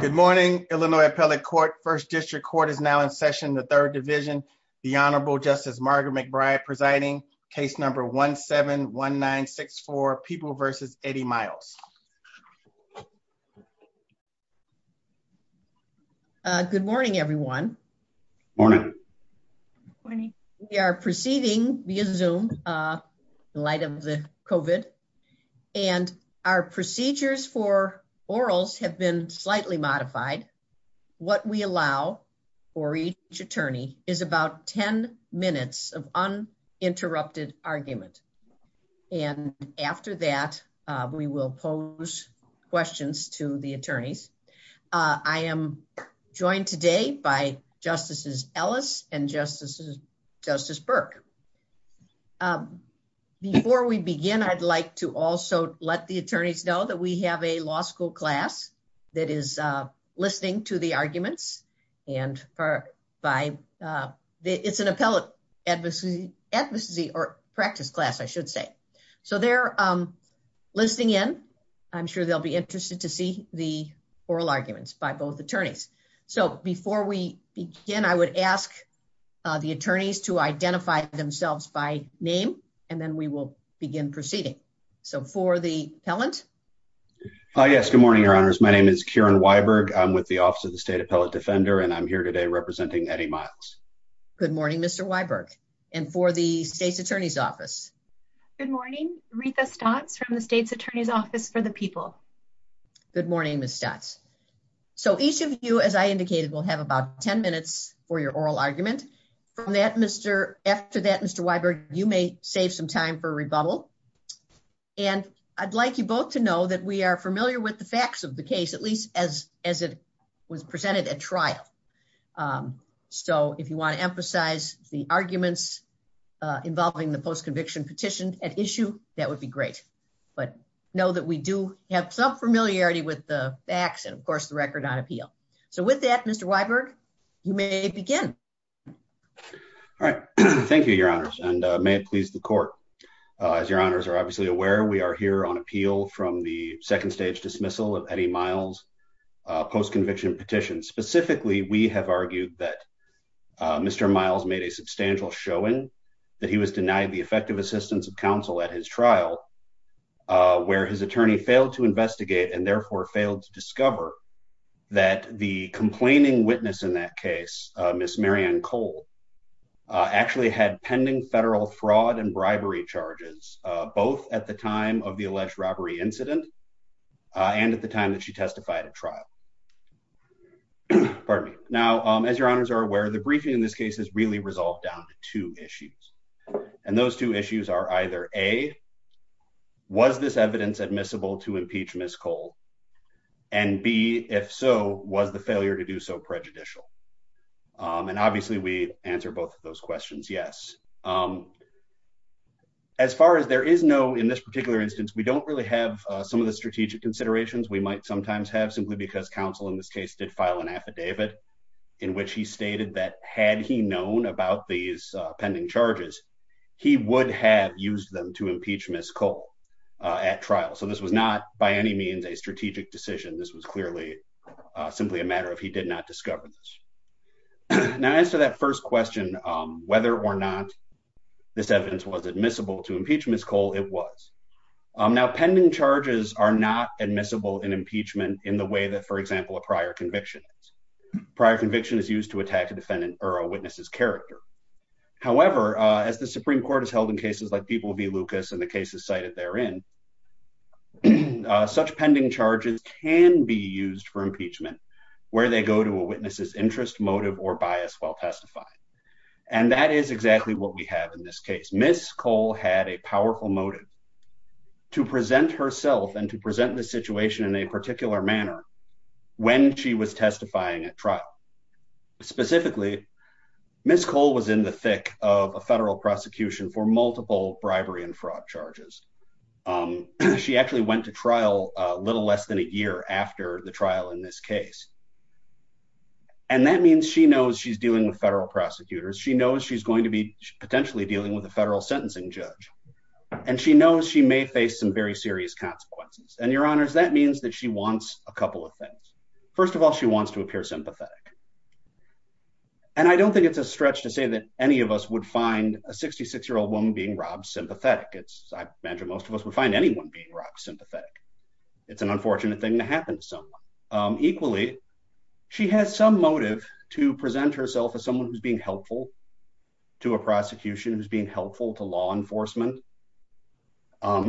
Good morning, Illinois Appellate Court. First District Court is now in session in the Third Division. The Honorable Justice Margaret McBride presiding. Case number 17-1964, People v. Eddie Miles. Good morning, everyone. Morning. Morning. We are proceeding via Zoom in light of the COVID. And our procedures for orals have been slightly modified. What we allow for each attorney is about 10 minutes of uninterrupted argument. And after that, we will pose questions to the attorneys. I am joined today by Justices Ellis and Justice Burke. Before we begin, I'd like to also let the attorneys know that we have a law school class that is listening to the arguments. And it's an appellate advocacy or practice class, I should say. So they're listening in. I'm sure they'll be interested to see the oral arguments by both attorneys. So before we begin, I would ask the attorneys to identify themselves by name, and then we will begin proceeding. So for the appellant. Yes, good morning, Your Honors. My name is Kieran Weiberg. I'm with the Office of the State Appellate Defender, and I'm here today representing Eddie Miles. Good morning, Mr. Weiberg. And for the State's Attorney's Office. Good morning, Rita Stotz from the State's Attorney's Office for the People. Good morning, Ms. Stotz. So each of you, as I indicated, will have about 10 minutes for your oral argument. From that, Mr. After that, Mr. Weiberg, you may save some time for rebuttal. And I'd like you both to know that we are familiar with the facts of the case, at least as as it was presented at trial. So if you want to emphasize the arguments involving the post-conviction petition at issue, that would be great. But know that we do have some familiarity with the facts and, of course, the record on appeal. So with that, Mr. Weiberg, you may begin. All right. Thank you, Your Honors. And may it please the court. As Your Honors are obviously aware, we are here on appeal from the second stage dismissal of Eddie Miles post-conviction petition. Specifically, we have argued that Mr. Miles made a substantial showing that he was denied the effective assistance of counsel at his trial, where his attorney failed to investigate and therefore failed to discover that the complaining witness in that case, Miss Marianne Cole, actually had pending federal fraud and bribery charges, both at the time of the alleged robbery incident and at the time that she testified at trial. Pardon me. Now, as Your Honors are aware, the briefing in this case is really resolved down to two issues. And those two issues are either A, was this evidence admissible to impeach Miss Cole? And B, if so, was the failure to do so prejudicial? And obviously we answer both of those questions. Yes. As far as there is no in this particular instance, we don't really have some of the strategic considerations we might sometimes have simply because counsel in this case did file an affidavit in which he stated that had he known about these pending charges, he would have used them to impeach Miss Cole at trial. So this was not by any means a strategic decision. This was clearly simply a matter of he did not discover this. Now, as to that first question, whether or not this evidence was admissible to impeach Miss Cole, it was. Now, pending charges are not admissible in impeachment in the way that, for example, a prior conviction. Prior conviction is used to attack a defendant or a witness's character. However, as the Supreme Court has held in cases like People v. Lucas and the cases cited therein, such pending charges can be used for impeachment where they go to a witness's interest, motive or bias while testifying. And that is exactly what we have in this case. Miss Cole had a powerful motive to present herself and to present the situation in a particular manner when she was testifying at trial. Specifically, Miss Cole was in the thick of a federal prosecution for multiple bribery and fraud charges. She actually went to trial a little less than a year after the trial in this case. And that means she knows she's dealing with federal prosecutors. She knows she's going to be potentially dealing with a federal sentencing judge. And she knows she may face some very serious consequences. And, Your Honors, that means that she wants a couple of things. First of all, she wants to appear sympathetic. And I don't think it's a stretch to say that any of us would find a 66-year-old woman being robbed sympathetic. I imagine most of us would find anyone being robbed sympathetic. It's an unfortunate thing to happen to someone. Equally, she has some motive to present herself as someone who's being helpful to a prosecution, who's being helpful to law enforcement,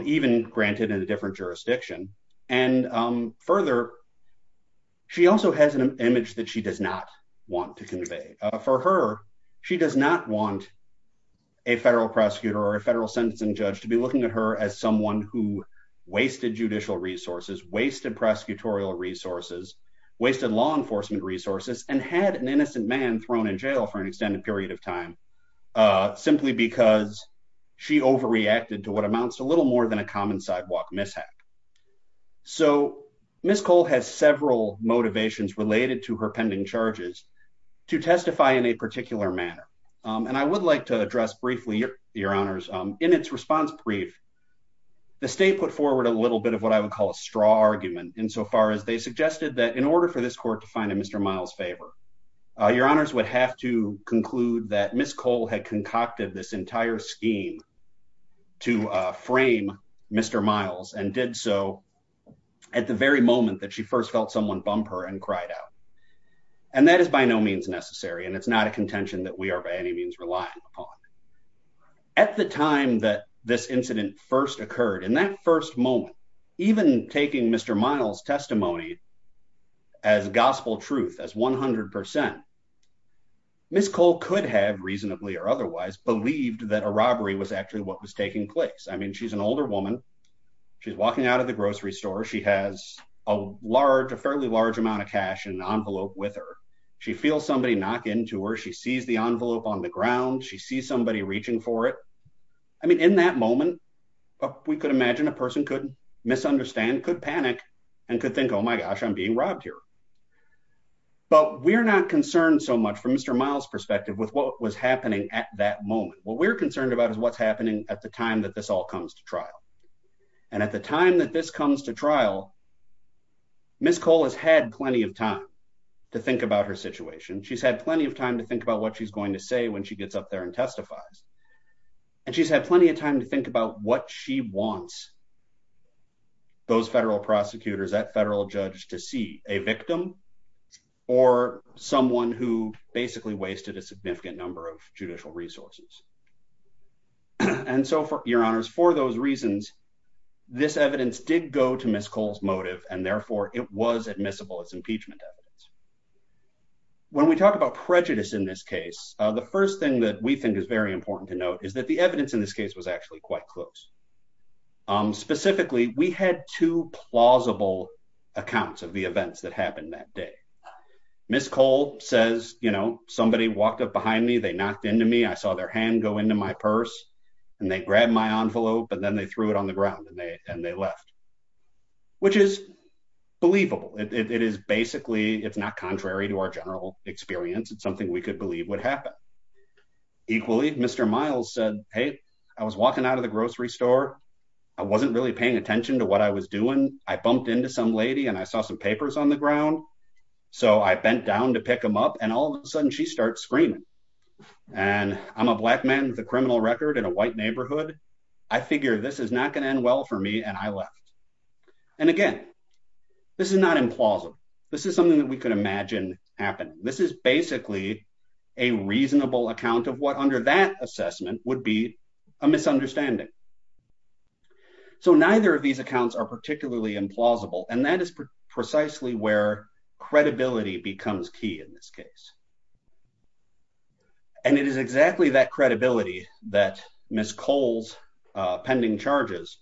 even granted in a different jurisdiction. And further, she also has an image that she does not want to convey. For her, she does not want a federal prosecutor or a federal sentencing judge to be looking at her as someone who wasted judicial resources, wasted prosecutorial resources, wasted law enforcement resources, and had an innocent man thrown in jail for an extended period of time simply because she overreacted to what amounts to a little more than a common sidewalk mishap. So, Ms. Cole has several motivations related to her pending charges to testify in a particular manner. And I would like to address briefly, Your Honors, in its response brief, the state put forward a little bit of what I would call a straw argument insofar as they suggested that in order for this court to find a Mr. Miles favor, Your Honors would have to conclude that Ms. Cole had concocted this entire scheme to frame Mr. Miles and did so at the very moment that she first felt someone bump her and cried out. And that is by no means necessary, and it's not a contention that we are by any means relying upon. At the time that this incident first occurred, in that first moment, even taking Mr. Miles' testimony as gospel truth, as 100%, Ms. Cole could have, reasonably or otherwise, believed that a robbery was actually what was taking place. I mean, she's an older woman. She's walking out of the grocery store. She has a large, a fairly large amount of cash in an envelope with her. She feels somebody knock into her. She sees the envelope on the ground. She sees somebody reaching for it. I mean, in that moment, we could imagine a person could misunderstand, could panic, and could think, oh, my gosh, I'm being robbed here. But we're not concerned so much from Mr. Miles' perspective with what was happening at that moment. What we're concerned about is what's happening at the time that this all comes to trial. And at the time that this comes to trial, Ms. Cole has had plenty of time to think about her situation. She's had plenty of time to think about what she's going to say when she gets up there and testifies. And she's had plenty of time to think about what she wants those federal prosecutors, that federal judge, to see, a victim or someone who basically wasted a significant number of judicial resources. And so, Your Honors, for those reasons, this evidence did go to Ms. Cole's motive, and therefore it was admissible as impeachment evidence. When we talk about prejudice in this case, the first thing that we think is very important to note is that the evidence in this case was actually quite close. Specifically, we had two plausible accounts of the events that happened that day. Ms. Cole says, you know, somebody walked up behind me, they knocked into me, I saw their hand go into my purse, and they grabbed my envelope, but then they threw it on the ground and they left. Which is believable. It is basically, it's not contrary to our general experience, it's something we could believe would happen. Equally, Mr. Miles said, hey, I was walking out of the grocery store, I wasn't really paying attention to what I was doing, I bumped into some lady and I saw some papers on the ground, so I bent down to pick them up, and all of a sudden she starts screaming. And I'm a black man with a criminal record in a white neighborhood. I figure this is not going to end well for me and I left. And again, this is not implausible. This is something that we could imagine happening. This is basically a reasonable account of what under that assessment would be a misunderstanding. So neither of these accounts are particularly implausible, and that is precisely where credibility becomes key in this case. And it is exactly that credibility that Ms. Cole's pending charges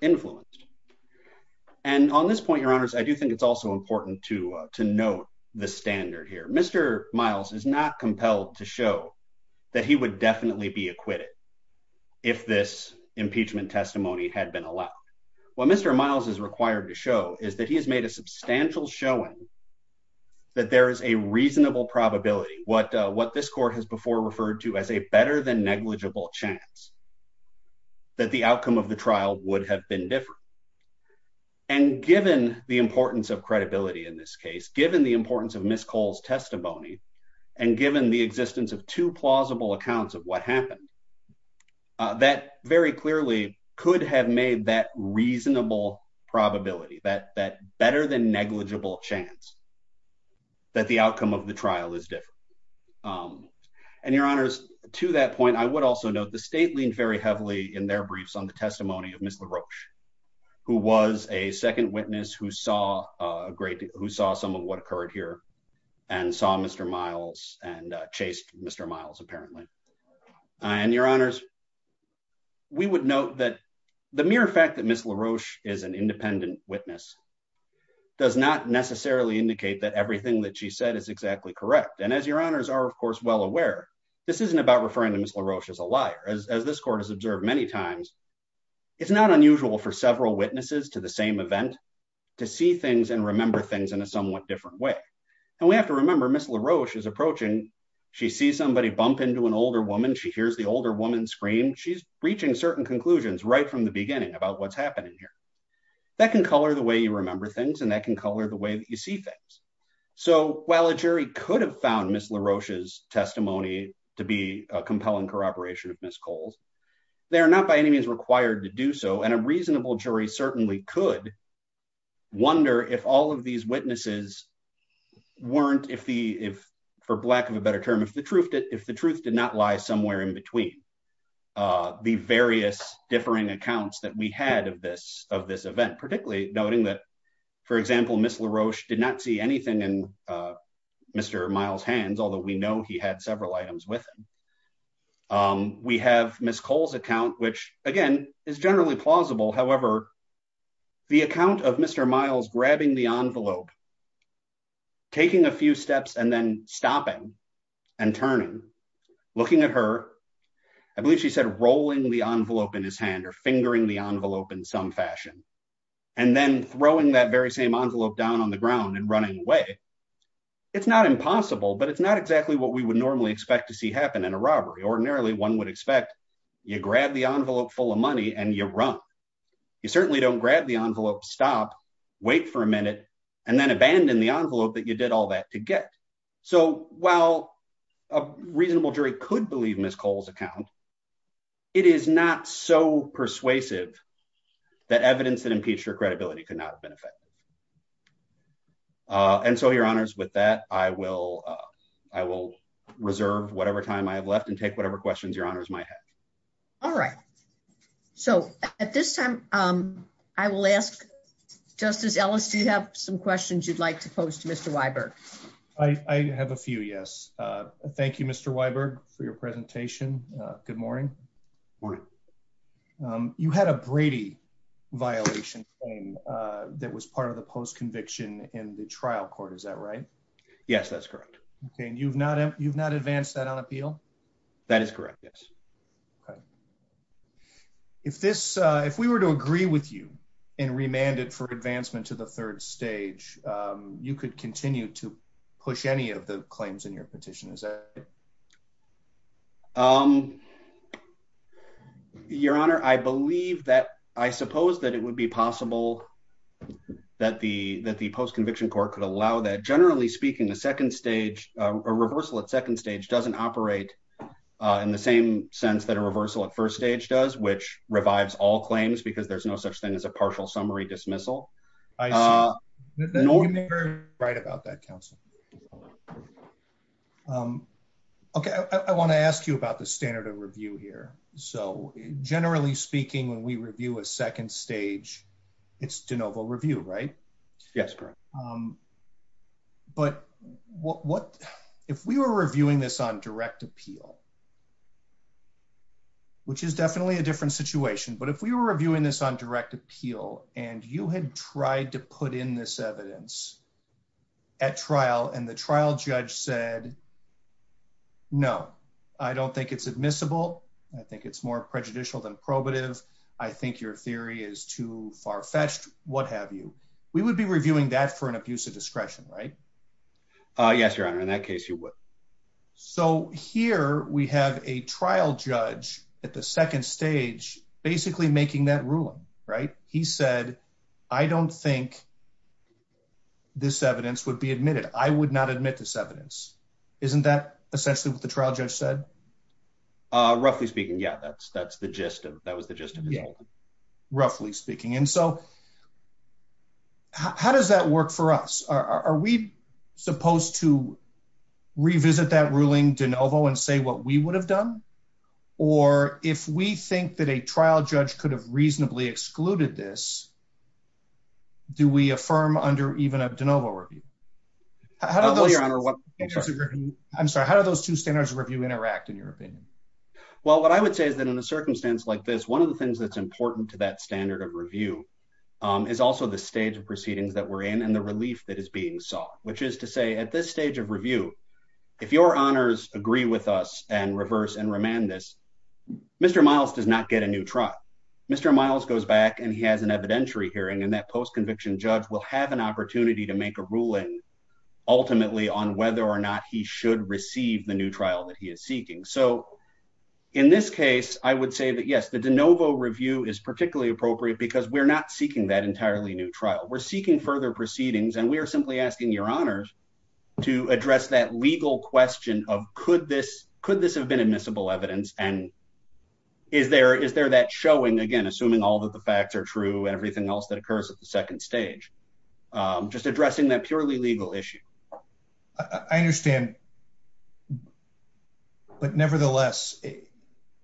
influenced. And on this point, your honors, I do think it's also important to note the standard here. Mr. Miles is not compelled to show that he would definitely be acquitted if this impeachment testimony had been allowed. What Mr. Miles is required to show is that he has made a substantial showing that there is a reasonable probability, what this court has before referred to as a better than negligible chance, that the outcome of the trial would have been different. And given the importance of credibility in this case, given the importance of Ms. Cole's testimony, and given the existence of two plausible accounts of what happened, that very clearly could have made that reasonable probability, that better than negligible chance, that the outcome of the trial is different. And your honors, to that point, I would also note the state leaned very heavily in their briefs on the testimony of Ms. LaRoche, who was a second witness who saw some of what occurred here and saw Mr. Miles and chased Mr. Miles, apparently. And your honors, we would note that the mere fact that Ms. LaRoche is an independent witness does not necessarily indicate that everything that she said is exactly correct. And as your honors are, of course, well aware, this isn't about referring to Ms. LaRoche as a liar. As this court has observed many times, it's not unusual for several witnesses to the same event to see things and remember things in a somewhat different way. And we have to remember Ms. LaRoche is approaching, she sees somebody bump into an older woman, she hears the older woman scream, she's reaching certain conclusions right from the beginning about what's happening here. That can color the way you remember things and that can color the way that you see things. So while a jury could have found Ms. LaRoche's testimony to be a compelling corroboration of Ms. Cole's, they are not by any means required to do so, and a reasonable jury certainly could wonder if all of these witnesses weren't, for lack of a better term, if the truth did not lie somewhere in between the various differing accounts that we had of this event, particularly noting that, for example, Ms. LaRoche did not see anything in Mr. Miles' hands, although we know he had several items with him. We have Ms. Cole's account, which again is generally plausible, however, the account of Mr. Miles grabbing the envelope, taking a few steps and then stopping and turning, looking at her, I believe she said rolling the envelope in his hand or fingering the envelope in some fashion, and then throwing that very same envelope down on the ground and running away, it's not impossible, but it's not exactly what we would normally expect to see happen in a robbery. Ordinarily, one would expect you grab the envelope full of money and you run. You certainly don't grab the envelope, stop, wait for a minute, and then abandon the envelope that you did all that to get. So while a reasonable jury could believe Ms. Cole's account, it is not so persuasive that evidence that impeached her credibility could not have been effective. And so, Your Honors, with that, I will reserve whatever time I have left and take whatever questions Your Honors might have. All right. So at this time, I will ask Justice Ellis, do you have some questions you'd like to pose to Mr. Weiberg? Sure. I have a few, yes. Thank you, Mr. Weiberg, for your presentation. Good morning. Morning. You had a Brady violation claim that was part of the post-conviction in the trial court, is that right? Yes, that's correct. And you've not advanced that on appeal? That is correct, yes. Okay. If we were to agree with you and remand it for advancement to the third stage, you could continue to push any of the claims in your petition, is that right? Your Honor, I suppose that it would be possible that the post-conviction court could allow that. Generally speaking, a reversal at second stage doesn't operate in the same sense that a reversal at first stage does, which revives all claims because there's no such thing as a partial summary dismissal. I see. You may be right about that, counsel. Okay. I want to ask you about the standard of review here. Generally speaking, when we review a second stage, it's de novo review, right? Yes, correct. But if we were reviewing this on direct appeal, which is definitely a different situation, but if we were reviewing this on direct appeal and you had tried to put in this evidence at trial and the trial judge said, no, I don't think it's admissible, I think it's more prejudicial than probative, I think your theory is too far-fetched, what have you, we would be reviewing that for an abuse of discretion, right? Yes, Your Honor. In that case, you would. So here we have a trial judge at the second stage basically making that ruling, right? He said, I don't think this evidence would be admitted. I would not admit this evidence. Isn't that essentially what the trial judge said? Roughly speaking, yeah. That was the gist of it. Roughly speaking. And so how does that work for us? Are we supposed to revisit that ruling de novo and say what we would have done? Or if we think that a trial judge could have reasonably excluded this, do we affirm under even a de novo review? I'm sorry, how do those two standards of review interact in your opinion? Well, what I would say is that in a circumstance like this, one of the things that's important to that standard of review is also the stage of proceedings that we're in and the relief that is being sought, which is to say at this stage of review, if your honors agree with us and reverse and remand this, Mr. Miles does not get a new trial. Mr. Miles goes back and he has an evidentiary hearing and that post-conviction judge will have an opportunity to make a ruling ultimately on whether or not he should receive the new trial that he is seeking. In this case, I would say that yes, the de novo review is particularly appropriate because we're not seeking that entirely new trial. We're seeking further proceedings and we are simply asking your honors to address that legal question of could this have been admissible evidence and is there that showing, again, assuming all of the facts are true and everything else that occurs at the second stage, just addressing that purely legal issue. I understand, but nevertheless,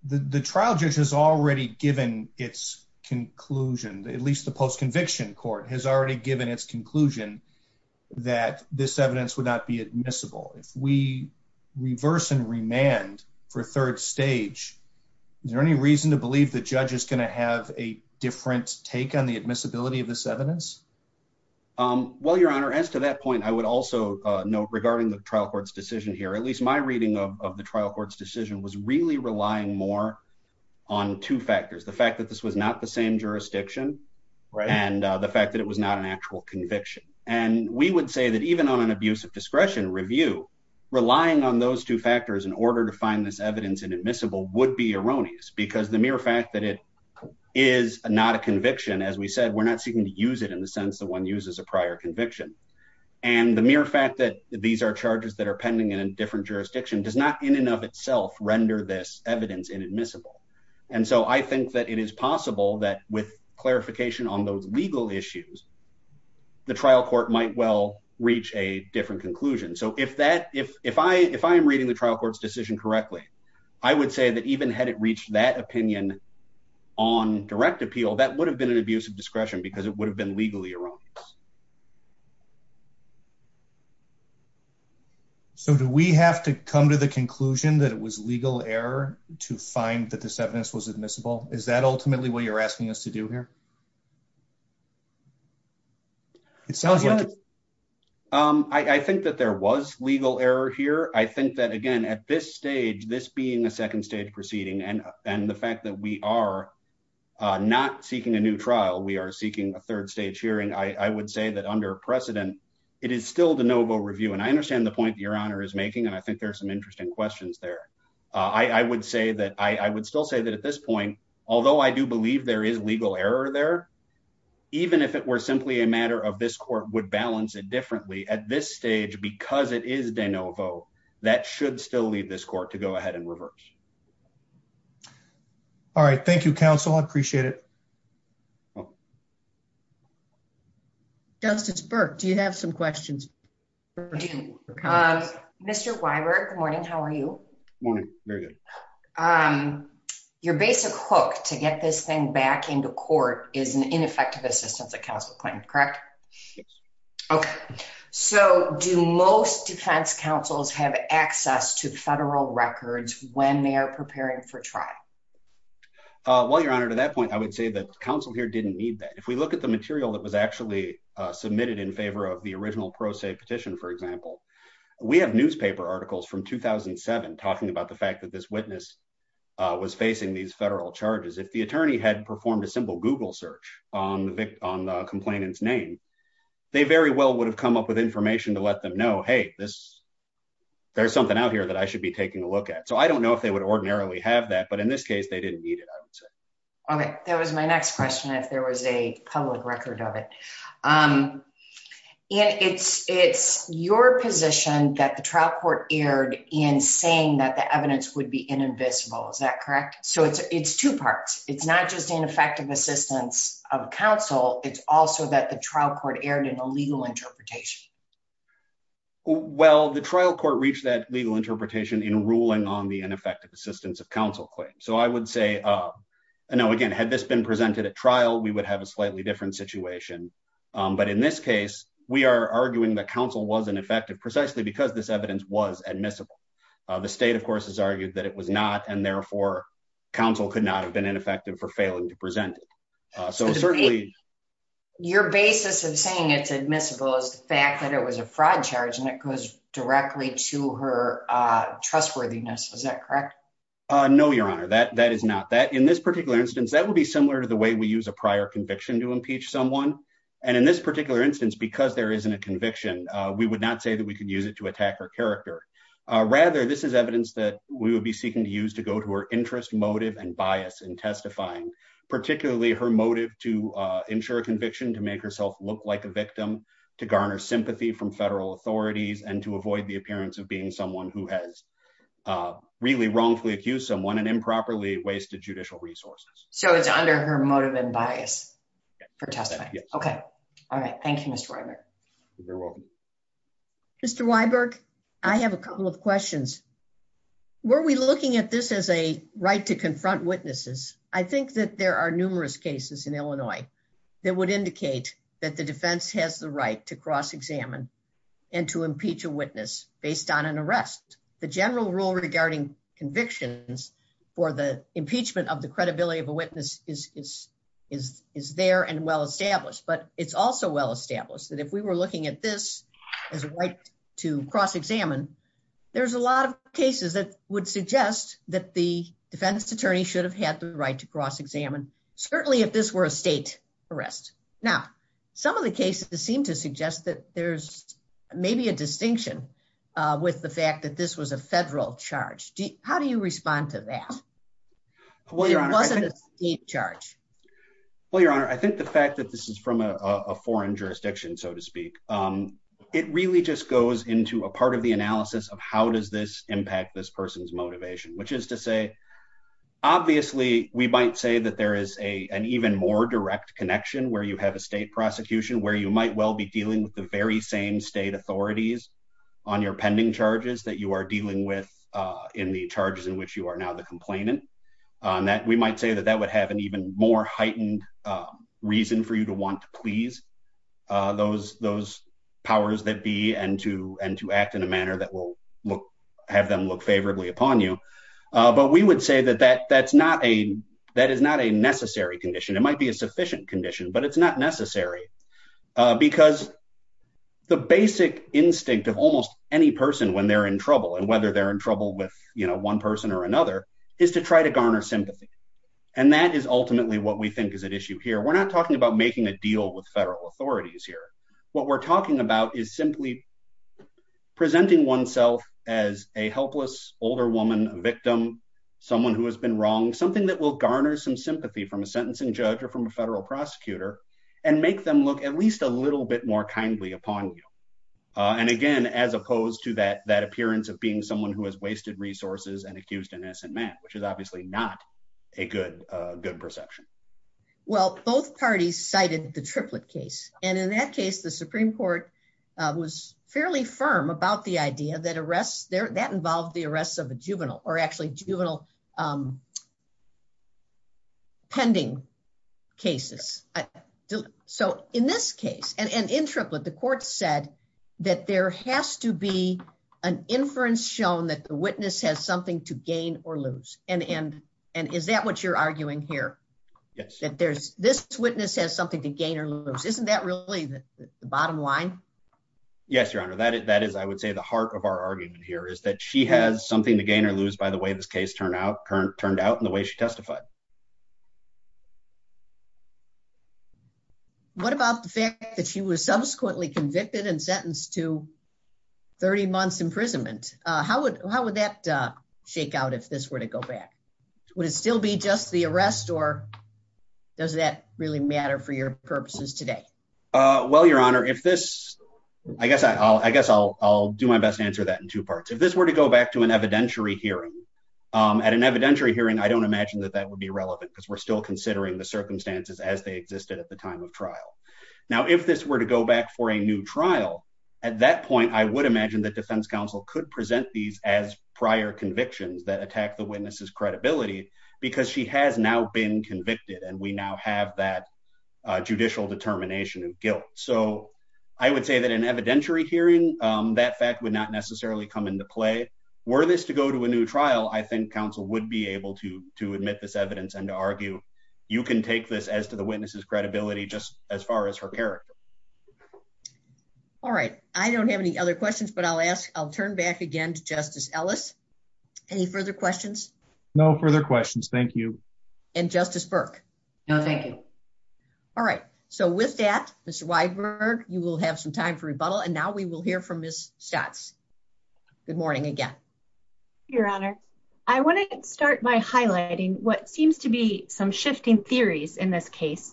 the trial judge has already given its conclusion, at least the post-conviction court has already given its conclusion that this evidence would not be admissible. If we reverse and remand for third stage, is there any reason to believe the judge is going to have a different take on the admissibility of this evidence? Well, your honor, as to that point, I would also note regarding the trial court's decision here, at least my reading of the trial court's decision was really relying more on two factors. The fact that this was not the same jurisdiction and the fact that it was not an actual conviction. And we would say that even on an abuse of discretion review, relying on those two factors in order to find this evidence inadmissible would be erroneous because the mere fact that it is not a conviction, as we said, we're not seeking to use it in the sense that one uses a prior conviction. And the mere fact that these are charges that are pending in a different jurisdiction does not, in and of itself, render this evidence inadmissible. And so I think that it is possible that with clarification on those legal issues, the trial court might well reach a different conclusion. So if I am reading the trial court's decision correctly, I would say that even had it reached that opinion on direct appeal, that would have been an abuse of discretion because it would have been legally erroneous. So do we have to come to the conclusion that it was legal error to find that this evidence was admissible? Is that ultimately what you're asking us to do here? It sounds like it. I think that there was legal error here. I think that, again, at this stage, this being a second stage proceeding and the fact that we are not seeking a new trial, we are seeking a third stage hearing, I would say that under precedent, it is still de novo review. And I understand the point that Your Honor is making, and I think there are some interesting questions there. I would still say that at this point, although I do believe there is legal error there, even if it were simply a matter of this court would balance it differently, at this stage, because it is de novo, that should still leave this court to go ahead and reverse. All right. Thank you, counsel. I appreciate it. Justice Burke, do you have some questions? I do. Mr. Weiberg, good morning. How are you? Good morning. Very good. Your basic hook to get this thing back into court is an ineffective assistance at counsel claim, correct? Okay. So do most defense counsels have access to federal records when they are preparing for trial? Well, Your Honor, to that point, I would say that counsel here didn't need that. If we look at the material that was actually submitted in favor of the original pro se petition, for example, we have newspaper articles from 2007 talking about the fact that this witness was facing these federal charges. If the attorney had performed a simple Google search on the complainant's name, they very well would have come up with information to let them know, hey, there's something out here that I should be taking a look at. So I don't know if they would ordinarily have that, but in this case, they didn't need it, I would say. Okay. That was my next question, if there was a public record of it. And it's your position that the trial court erred in saying that the evidence would be invisible. Is that correct? So it's two parts. It's not just ineffective assistance of counsel. It's also that the trial court erred in a legal interpretation. Well, the trial court reached that legal interpretation in ruling on the ineffective assistance of counsel claim. So I would say, again, had this been presented at trial, we would have a slightly different situation. But in this case, we are arguing that counsel wasn't effective precisely because this evidence was admissible. The state, of course, has argued that it was not, and therefore, counsel could not have been ineffective for failing to present it. Your basis of saying it's admissible is the fact that it was a fraud charge, and it goes directly to her trustworthiness. Is that correct? No, Your Honor, that is not. In this particular instance, that would be similar to the way we use a prior conviction to impeach someone. And in this particular instance, because there isn't a conviction, we would not say that we could use it to attack her character. Rather, this is evidence that we would be seeking to use to go to her interest, motive, and bias in testifying, particularly her motive to ensure a conviction, to make herself look like a victim, to garner sympathy from federal authorities, and to avoid the appearance of being someone who has really wrongfully accused someone and improperly wasted judicial resources. So it's under her motive and bias for testifying. Okay. All right. Thank you, Mr. Weiberg. You're welcome. Mr. Weiberg, I have a couple of questions. Were we looking at this as a right to confront witnesses? Given that there are numerous cases in Illinois that would indicate that the defense has the right to cross-examine and to impeach a witness based on an arrest, the general rule regarding convictions for the impeachment of the credibility of a witness is there and well-established. But it's also well-established that if we were looking at this as a right to cross-examine, there's a lot of cases that would suggest that the defense attorney should have had the right to cross-examine, certainly if this were a state arrest. Now, some of the cases seem to suggest that there's maybe a distinction with the fact that this was a federal charge. How do you respond to that? Well, Your Honor, I think the fact that this is from a foreign jurisdiction, so to speak, it really just goes into a part of the analysis of how does this impact this person's motivation, which is to say, obviously, we might say that there is an even more direct connection where you have a state prosecution where you might well be dealing with the very same state authorities on your pending charges that you are dealing with in the charges in which you are now the complainant. We might say that that would have an even more heightened reason for you to want to please those powers that be and to act in a manner that will have them look favorably upon you. But we would say that that is not a necessary condition. It might be a sufficient condition, but it's not necessary. Because the basic instinct of almost any person when they're in trouble, and whether they're in trouble with one person or another, is to try to garner sympathy. And that is ultimately what we think is at issue here. We're not talking about making a deal with federal authorities here. What we're talking about is simply presenting oneself as a helpless older woman, a victim, someone who has been wronged, something that will garner some sympathy from a sentencing judge or from a federal prosecutor and make them look at least a little bit more kindly upon you. And again, as opposed to that appearance of being someone who has wasted resources and accused an innocent man, which is obviously not a good perception. Well, both parties cited the Triplett case. And in that case, the Supreme Court was fairly firm about the idea that arrests, that involved the arrests of a juvenile or actually juvenile pending cases. So in this case, and in Triplett, the court said that there has to be an inference shown that the witness has something to gain or lose. And is that what you're arguing here? Yes. That this witness has something to gain or lose. Isn't that really the bottom line? Yes, Your Honor. That is, I would say, the heart of our argument here is that she has something to gain or lose by the way this case turned out and the way she testified. What about the fact that she was subsequently convicted and sentenced to 30 months imprisonment? How would that shake out if this were to go back? Would it still be just the arrest or does that really matter for your purposes today? Well, Your Honor, if this, I guess I'll do my best to answer that in two parts. If this were to go back to an evidentiary hearing, at an evidentiary hearing, I don't imagine that that would be relevant because we're still considering the circumstances as they existed at the time of trial. Now, if this were to go back for a new trial, at that point, I would imagine that defense counsel could present these as prior convictions that attack the witness's credibility because she has now been convicted and we now have that judicial determination of guilt. So I would say that an evidentiary hearing, that fact would not necessarily come into play. Were this to go to a new trial, I think counsel would be able to admit this evidence and to argue, you can take this as to the witness's credibility just as far as her character. All right. I don't have any other questions, but I'll ask, I'll turn back again to Justice Ellis. Any further questions? No further questions. Thank you. And Justice Burke? No, thank you. All right. So with that, Mr. Weidberg, you will have some time for rebuttal. And now we will hear from Ms. Schatz. Good morning again. Your Honor, I want to start by highlighting what seems to be some shifting theories in this case.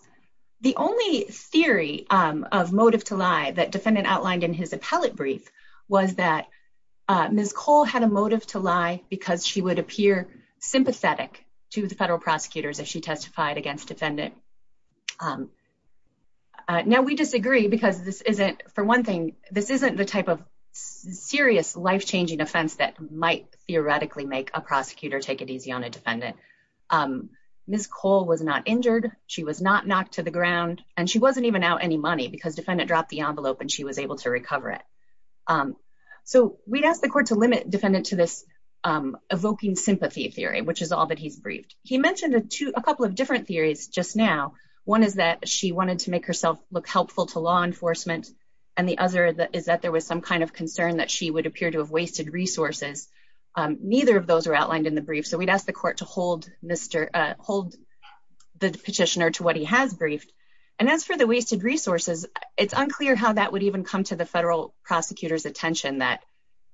The only theory of motive to lie that defendant outlined in his appellate brief was that Ms. Cole had a motive to lie because she would appear sympathetic to the federal prosecutors if she testified against defendant. Now, we disagree because this isn't, for one thing, this isn't the type of serious life changing offense that might theoretically make a prosecutor take it easy on a defendant. Ms. Cole was not injured. She was not knocked to the ground. And she wasn't even out any money because defendant dropped the envelope and she was able to recover it. So we'd ask the court to limit defendant to this evoking sympathy theory, which is all that he's briefed. He mentioned a couple of different theories just now. One is that she wanted to make herself look helpful to law enforcement. And the other is that there was some kind of concern that she would appear to have wasted resources. Neither of those are outlined in the brief. So we'd ask the court to hold the petitioner to what he has briefed. And as for the wasted resources, it's unclear how that would even come to the federal prosecutor's attention that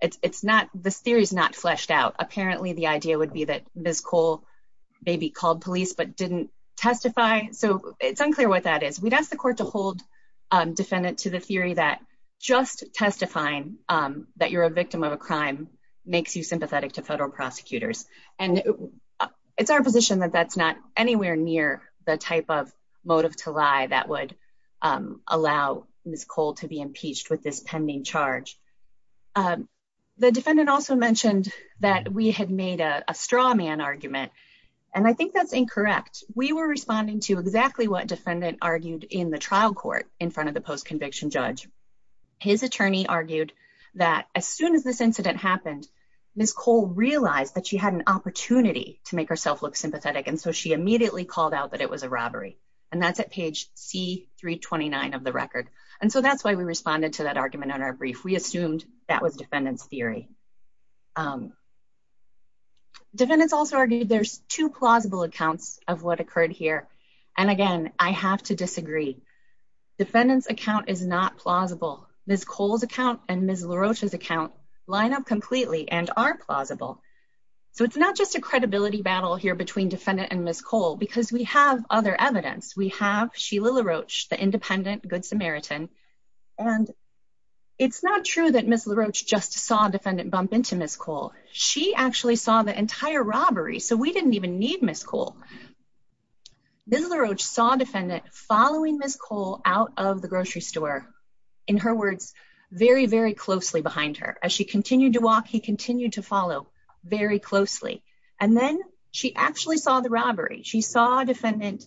this theory is not fleshed out. Apparently, the idea would be that Ms. Cole maybe called police but didn't testify. So it's unclear what that is. We'd ask the court to hold defendant to the theory that just testifying that you're a victim of a crime makes you sympathetic to federal prosecutors. And it's our position that that's not anywhere near the type of motive to lie that would allow Ms. Cole to be impeached with this pending charge. The defendant also mentioned that we had made a straw man argument, and I think that's incorrect. We were responding to exactly what defendant argued in the trial court in front of the post conviction judge. His attorney argued that as soon as this incident happened, Ms. Cole realized that she had an opportunity to make herself look sympathetic. And so she immediately called out that it was a robbery. And that's at page C329 of the record. And so that's why we responded to that argument on our brief. We assumed that was defendant's theory. Defendants also argued there's two plausible accounts of what occurred here. And again, I have to disagree. Defendant's account is not plausible. Ms. Cole's account and Ms. LaRoche's account line up completely and are plausible. So it's not just a credibility battle here between defendant and Ms. Cole, because we have other evidence. We have Sheila LaRoche, the independent Good Samaritan. And it's not true that Ms. LaRoche just saw defendant bump into Ms. Cole. She actually saw the entire robbery. So we didn't even need Ms. Cole. Ms. LaRoche saw defendant following Ms. Cole out of the grocery store. In her words, very, very closely behind her. As she continued to walk, he continued to follow very closely. And then she actually saw the robbery. She saw defendant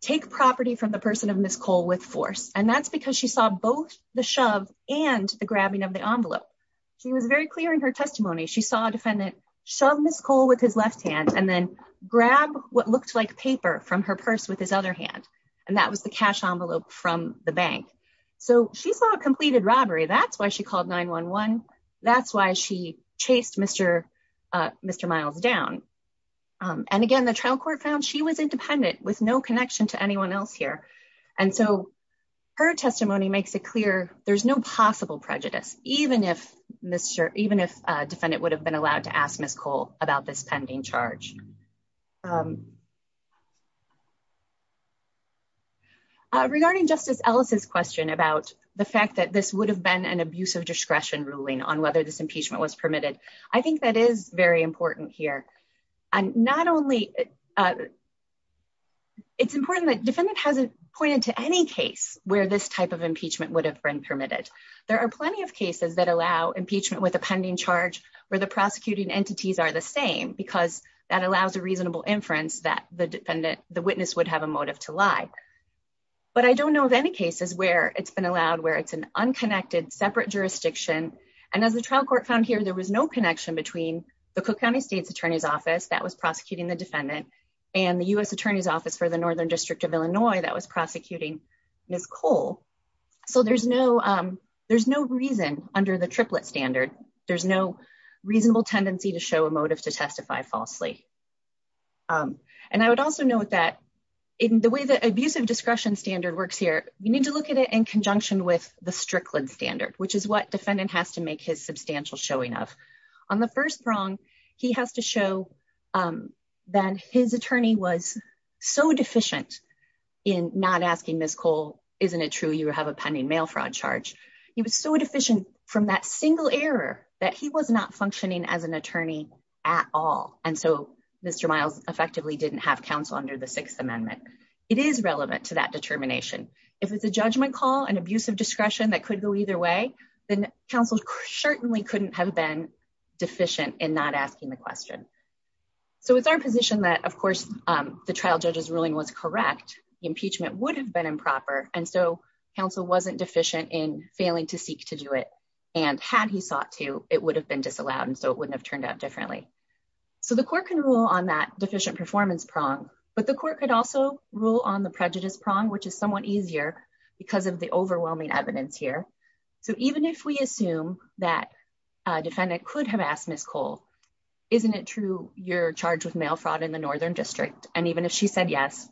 take property from the person of Ms. Cole with force. And that's because she saw both the shove and the grabbing of the envelope. She was very clear in her testimony. She saw defendant shove Ms. Cole with his left hand and then grab what looked like paper from her purse with his other hand. And that was the cash envelope from the bank. So she saw a completed robbery. That's why she called 911. That's why she chased Mr. Miles down. And again, the trial court found she was independent with no connection to anyone else here. And so her testimony makes it clear there's no possible prejudice, even if defendant would have been allowed to ask Ms. Cole about this pending charge. Regarding Justice Ellis' question about the fact that this would have been an abuse of discretion ruling on whether this impeachment was permitted, I think that is very important here. It's important that defendant hasn't pointed to any case where this type of impeachment would have been permitted. There are plenty of cases that allow impeachment with a pending charge where the prosecuting entities are the same, because that allows a reasonable inference that the witness would have a motive to lie. But I don't know of any cases where it's been allowed, where it's an unconnected, separate jurisdiction. And as the trial court found here, there was no connection between the Cook County State's Attorney's Office that was prosecuting the defendant and the U.S. Attorney's Office for the Northern District of Illinois that was prosecuting Ms. Cole. So there's no reason under the triplet standard, there's no reasonable tendency to show a motive to testify falsely. And I would also note that in the way that abusive discretion standard works here, you need to look at it in conjunction with the Strickland standard, which is what defendant has to make his substantial showing of. On the first prong, he has to show that his attorney was so deficient in not asking Ms. Cole, isn't it true you have a pending mail fraud charge? He was so deficient from that single error that he was not functioning as an attorney at all. And so Mr. Miles effectively didn't have counsel under the Sixth Amendment. It is relevant to that determination. If it's a judgment call and abusive discretion that could go either way, then counsel certainly couldn't have been deficient in not asking the question. So it's our position that, of course, the trial judge's ruling was correct. The impeachment would have been improper. And so counsel wasn't deficient in failing to seek to do it. And had he sought to, it would have been disallowed. And so it wouldn't have turned out differently. So the court can rule on that deficient performance prong. But the court could also rule on the prejudice prong, which is somewhat easier because of the overwhelming evidence here. So even if we assume that a defendant could have asked Ms. Cole, isn't it true you're charged with mail fraud in the Northern District? And even if she said yes,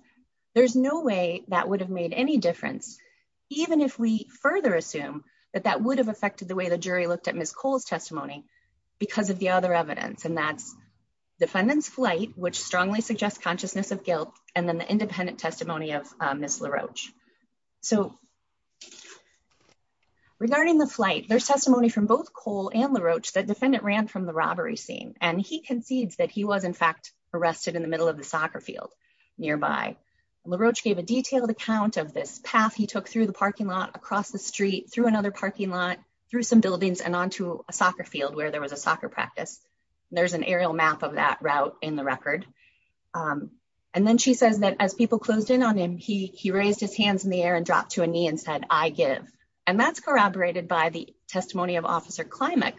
there's no way that would have made any difference. Even if we further assume that that would have affected the way the jury looked at Ms. Cole's testimony because of the other evidence. And that's defendant's flight, which strongly suggests consciousness of guilt. And then the independent testimony of Ms. LaRoche. So regarding the flight, there's testimony from both Cole and LaRoche that defendant ran from the robbery scene. And he concedes that he was, in fact, arrested in the middle of the soccer field nearby. LaRoche gave a detailed account of this path he took through the parking lot, across the street, through another parking lot, through some buildings and onto a soccer field where there was a soccer practice. And there's an aerial map of that route in the record. And then she says that as people closed in on him, he raised his hands in the air and dropped to a knee and said, I give. And that's corroborated by the testimony of Officer Klimek,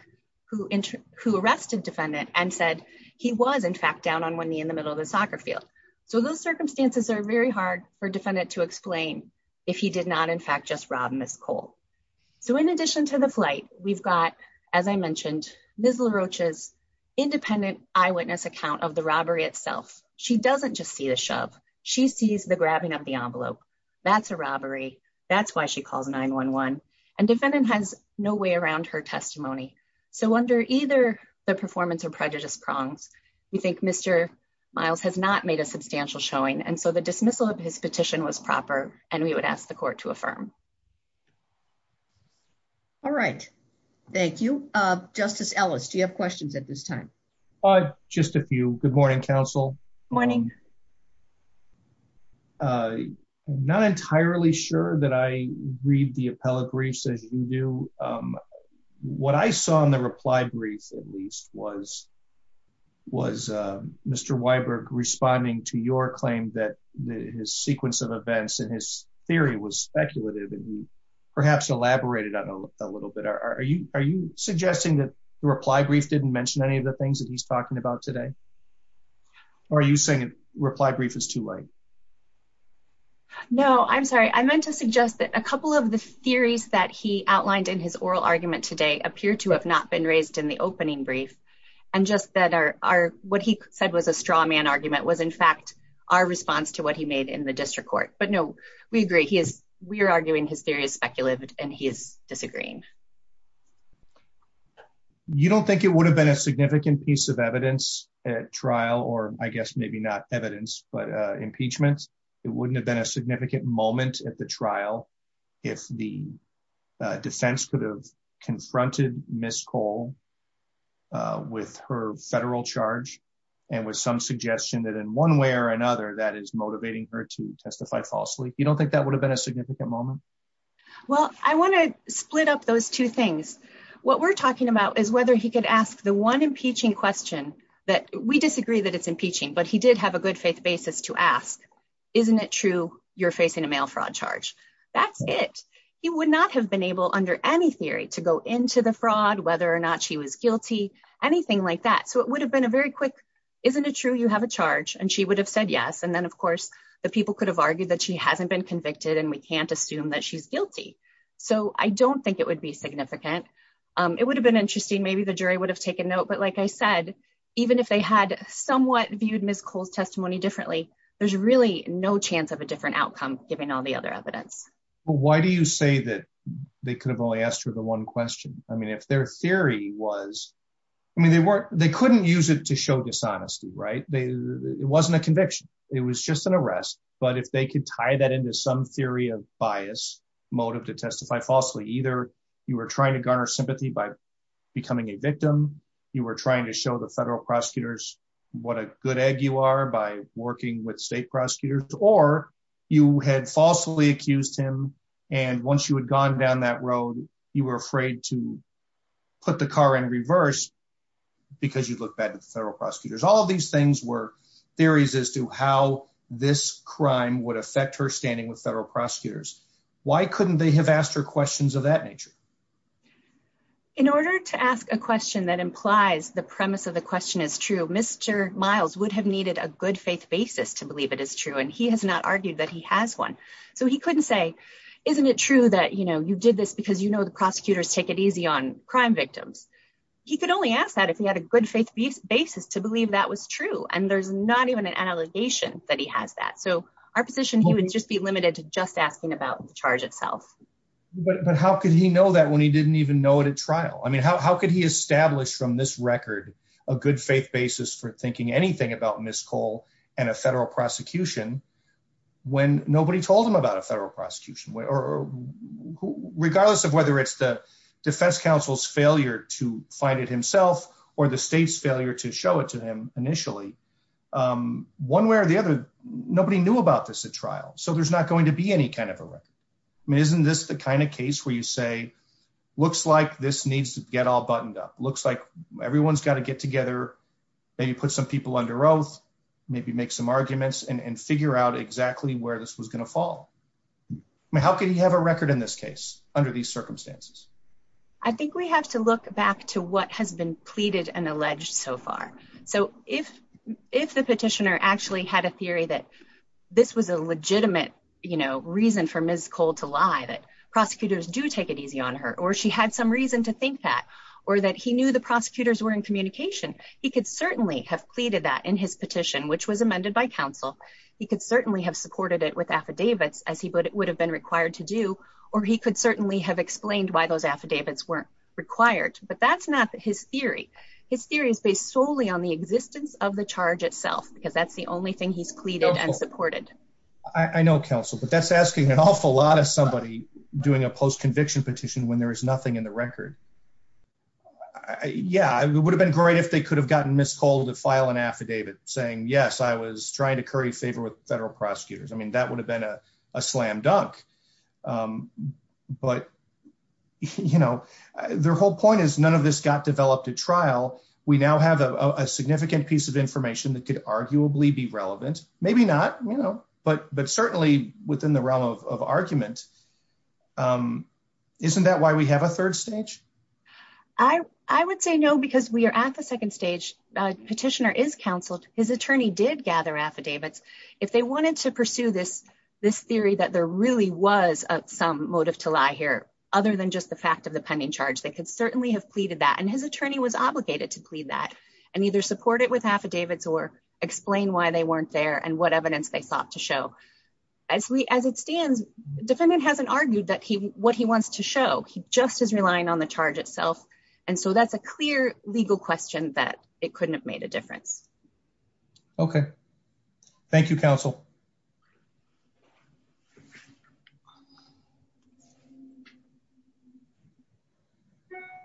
who arrested defendant and said he was, in fact, down on one knee in the middle of the soccer field. So those circumstances are very hard for defendant to explain if he did not, in fact, just rob Ms. Cole. So in addition to the flight, we've got, as I mentioned, Ms. LaRoche's independent eyewitness account of the robbery itself. She doesn't just see the shove. She sees the grabbing of the envelope. That's a robbery. That's why she calls 911. And defendant has no way around her testimony. So under either the performance or prejudice prongs, we think Mr. Miles has not made a substantial showing. And so the dismissal of his petition was proper, and we would ask the court to affirm. All right. Thank you. Justice Ellis, do you have questions at this time? Just a few. Good morning, counsel. Morning. I'm not entirely sure that I read the appellate briefs as you do. What I saw in the reply brief, at least, was Mr. Weiberg responding to your claim that his sequence of events and his theory was speculative. And he perhaps elaborated on it a little bit. Are you suggesting that the reply brief didn't mention any of the things that he's talking about today? Or are you saying reply brief is too late? No, I'm sorry. I meant to suggest that a couple of the theories that he outlined in his oral argument today appear to have not been raised in the opening brief. And just that what he said was a straw man argument was, in fact, our response to what he made in the district court. But no, we agree. We are arguing his theory is speculative, and he is disagreeing. You don't think it would have been a significant piece of evidence at trial, or I guess maybe not evidence, but impeachment? It wouldn't have been a significant moment at the trial if the defense could have confronted Ms. Cole with her federal charge and with some suggestion that in one way or another that is motivating her to testify falsely? You don't think that would have been a significant moment? Well, I want to split up those two things. What we're talking about is whether he could ask the one impeaching question that we disagree that it's impeaching, but he did have a good faith basis to ask, isn't it true you're facing a mail fraud charge? That's it. He would not have been able under any theory to go into the fraud, whether or not she was guilty, anything like that. So it would have been a very quick, isn't it true you have a charge? And she would have said yes. And then, of course, the people could have argued that she hasn't been convicted and we can't assume that she's guilty. So I don't think it would be significant. It would have been interesting. Maybe the jury would have taken note. But like I said, even if they had somewhat viewed Ms. Cole's testimony differently, there's really no chance of a different outcome, given all the other evidence. But why do you say that they could have only asked her the one question? I mean, if their theory was, I mean, they couldn't use it to show dishonesty, right? It wasn't a conviction. It was just an arrest. But if they could tie that into some theory of bias motive to testify falsely, either you were trying to garner sympathy by becoming a victim, you were trying to show the federal prosecutors what a good egg you are by working with state prosecutors, or you had falsely accused him, and once you had gone down that road, you were afraid to put the car in reverse because you'd look bad to the federal prosecutors. All of these things were theories as to how this crime would affect her standing with federal prosecutors. Why couldn't they have asked her questions of that nature? In order to ask a question that implies the premise of the question is true, Mr. Miles would have needed a good faith basis to believe it is true. He has not argued that he has one. So he couldn't say, isn't it true that you did this because you know the prosecutors take it easy on crime victims? He could only ask that if he had a good faith basis to believe that was true, and there's not even an allegation that he has that. So our position would just be limited to just asking about the charge itself. But how could he know that when he didn't even know it at trial? I mean, how could he establish from this record a good faith basis for thinking anything about Ms. Cole and a federal prosecution when nobody told him about a federal prosecution? Regardless of whether it's the defense counsel's failure to find it himself or the state's failure to show it to him initially, one way or the other, nobody knew about this at trial. So there's not going to be any kind of a record. I mean, isn't this the kind of case where you say, looks like this needs to get all buttoned up. Looks like everyone's got to get together, maybe put some people under oath, maybe make some arguments and figure out exactly where this was going to fall. How could he have a record in this case under these circumstances? I think we have to look back to what has been pleaded and alleged so far. So if the petitioner actually had a theory that this was a legitimate reason for Ms. Cole to lie, that prosecutors do take it easy on her, or she had some reason to think that, or that he knew the prosecutors were in communication, he could certainly have pleaded that in his petition, which was amended by counsel. He could certainly have supported it with affidavits, as he would have been required to do, or he could certainly have explained why those affidavits weren't required. But that's not his theory. His theory is based solely on the existence of the charge itself, because that's the only thing he's pleaded and supported. I know, counsel, but that's asking an awful lot of somebody doing a post-conviction petition when there is nothing in the record. Yeah, it would have been great if they could have gotten Ms. Cole to file an affidavit saying, yes, I was trying to curry favor with federal prosecutors. I mean, that would have been a slam dunk. But, you know, their whole point is none of this got developed at trial. We now have a significant piece of information that could arguably be relevant. Maybe not, you know, but certainly within the realm of argument. Isn't that why we have a third stage? I would say no, because we are at the second stage. Petitioner is counseled. His attorney did gather affidavits. If they wanted to pursue this theory that there really was some motive to lie here, other than just the fact of the pending charge, they could certainly have pleaded that. And his attorney was obligated to plead that and either support it with affidavits or explain why they weren't there and what evidence they sought to show. As it stands, defendant hasn't argued what he wants to show. He just is relying on the charge itself. And so that's a clear legal question that it couldn't have made a difference. Okay. Thank you, counsel.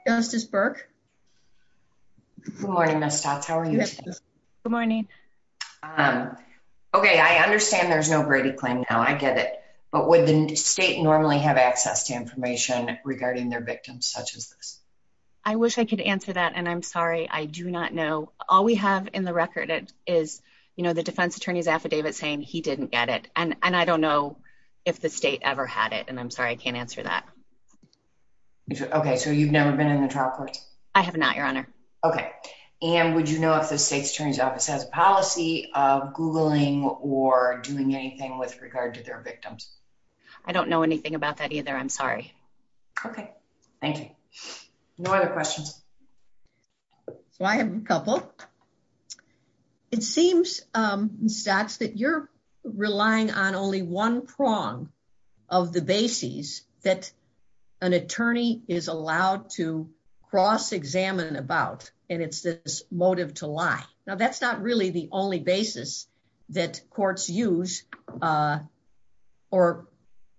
Justice Burke. Good morning, Ms. Stotz. How are you? Good morning. Okay. I understand there's no Brady claim now. I get it. But would the state normally have access to information regarding their victims such as this? I wish I could answer that. And I'm sorry, I do not know. All we have in the record is, you know, the defense attorney's affidavit saying he didn't get it. And I don't know if the state ever had it. And I'm sorry, I can't answer that. Okay. So you've never been in the trial court? I have not, Your Honor. Okay. And would you know if the state's attorney's office has a policy of Googling or doing anything with regard to their victims? I don't know anything about that either. I'm sorry. Okay. Thank you. No other questions. So I have a couple. It seems, Ms. Stotz, that you're relying on only one prong of the bases that an attorney is allowed to cross-examine about. And it's this motive to lie. Now, that's not really the only basis that courts use or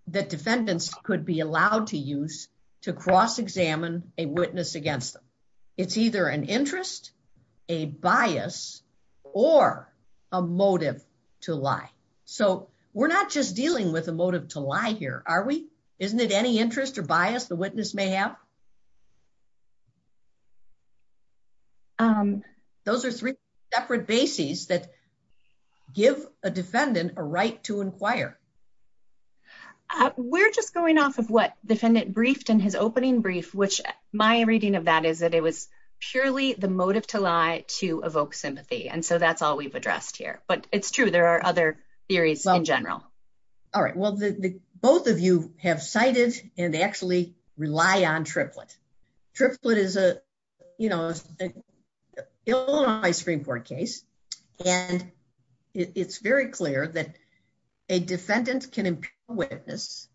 that defendants could be allowed to use to cross-examine a witness against them. It's either an interest, a bias, or a motive to lie. So we're not just dealing with a motive to lie here, are we? Isn't it any interest or bias the witness may have? Those are three separate bases that give a defendant a right to inquire. We're just going off of what the defendant briefed in his opening brief, which my reading of that is that it was purely the motive to lie to evoke sympathy. And so that's all we've addressed here. But it's true. There are other theories in general. All right. Well, both of you have cited and actually rely on truth. What about Triplett? Triplett is an Illinois Supreme Court case. And it's very clear that a defendant can impute a witness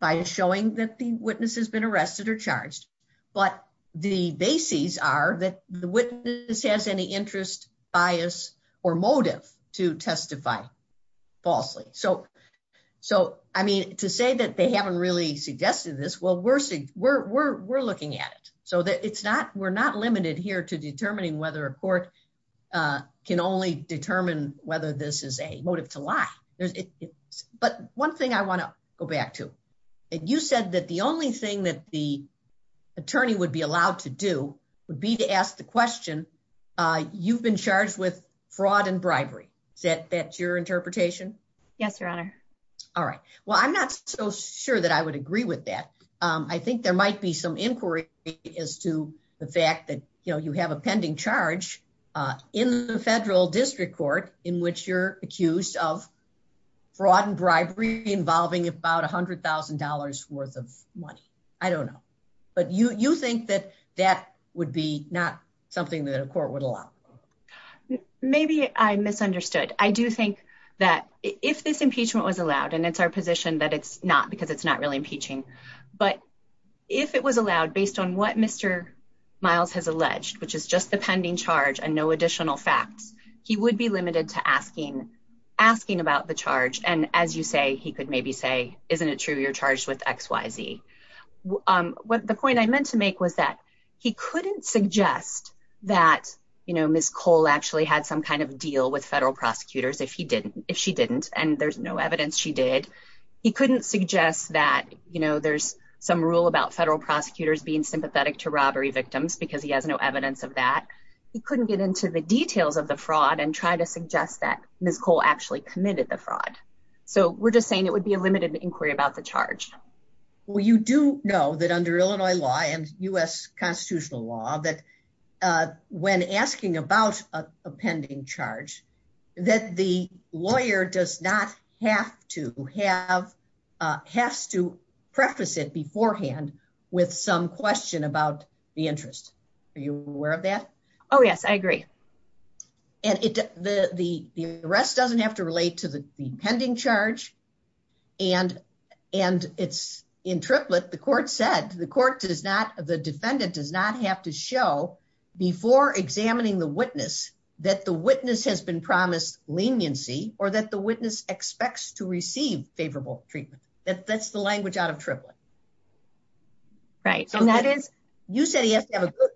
by showing that the witness has been arrested or charged. But the bases are that the witness has any interest, bias, or motive to testify falsely. So to say that they haven't really suggested this, well, we're looking at it. So we're not limited here to determining whether a court can only determine whether this is a motive to lie. But one thing I want to go back to. You said that the only thing that the attorney would be allowed to do would be to ask the question, you've been charged with fraud and bribery. Is that your interpretation? Yes, Your Honor. All right. Well, I'm not so sure that I would agree with that. I think there might be some inquiry as to the fact that you have a pending charge in the federal district court in which you're accused of fraud and bribery involving about $100,000 worth of money. I don't know. But you think that that would be not something that a court would allow? Maybe I misunderstood. I do think that if this impeachment was allowed, and it's our position that it's not because it's not really impeaching. But if it was allowed based on what Mr. Miles has alleged, which is just the pending charge and no additional facts, he would be limited to asking about the charge. And as you say, he could maybe say, isn't it true you're charged with XYZ? The point I meant to make was that he couldn't suggest that, you know, Ms. Cole actually had some kind of deal with federal prosecutors if she didn't. And there's no evidence she did. He couldn't suggest that, you know, there's some rule about federal prosecutors being sympathetic to robbery victims because he has no evidence of that. He couldn't get into the details of the fraud and try to suggest that Ms. Cole actually committed the fraud. So we're just saying it would be a limited inquiry about the charge. Well, you do know that under Illinois law and U.S. constitutional law, that when asking about a pending charge, that the lawyer does not have to have, has to preface it beforehand with some question about the interest. Are you aware of that? Oh, yes, I agree. And the arrest doesn't have to relate to the pending charge. And it's in triplet. But the court said, the court does not, the defendant does not have to show before examining the witness that the witness has been promised leniency or that the witness expects to receive favorable treatment. That's the language out of triplet. Right. So that is, you said he has to have a good,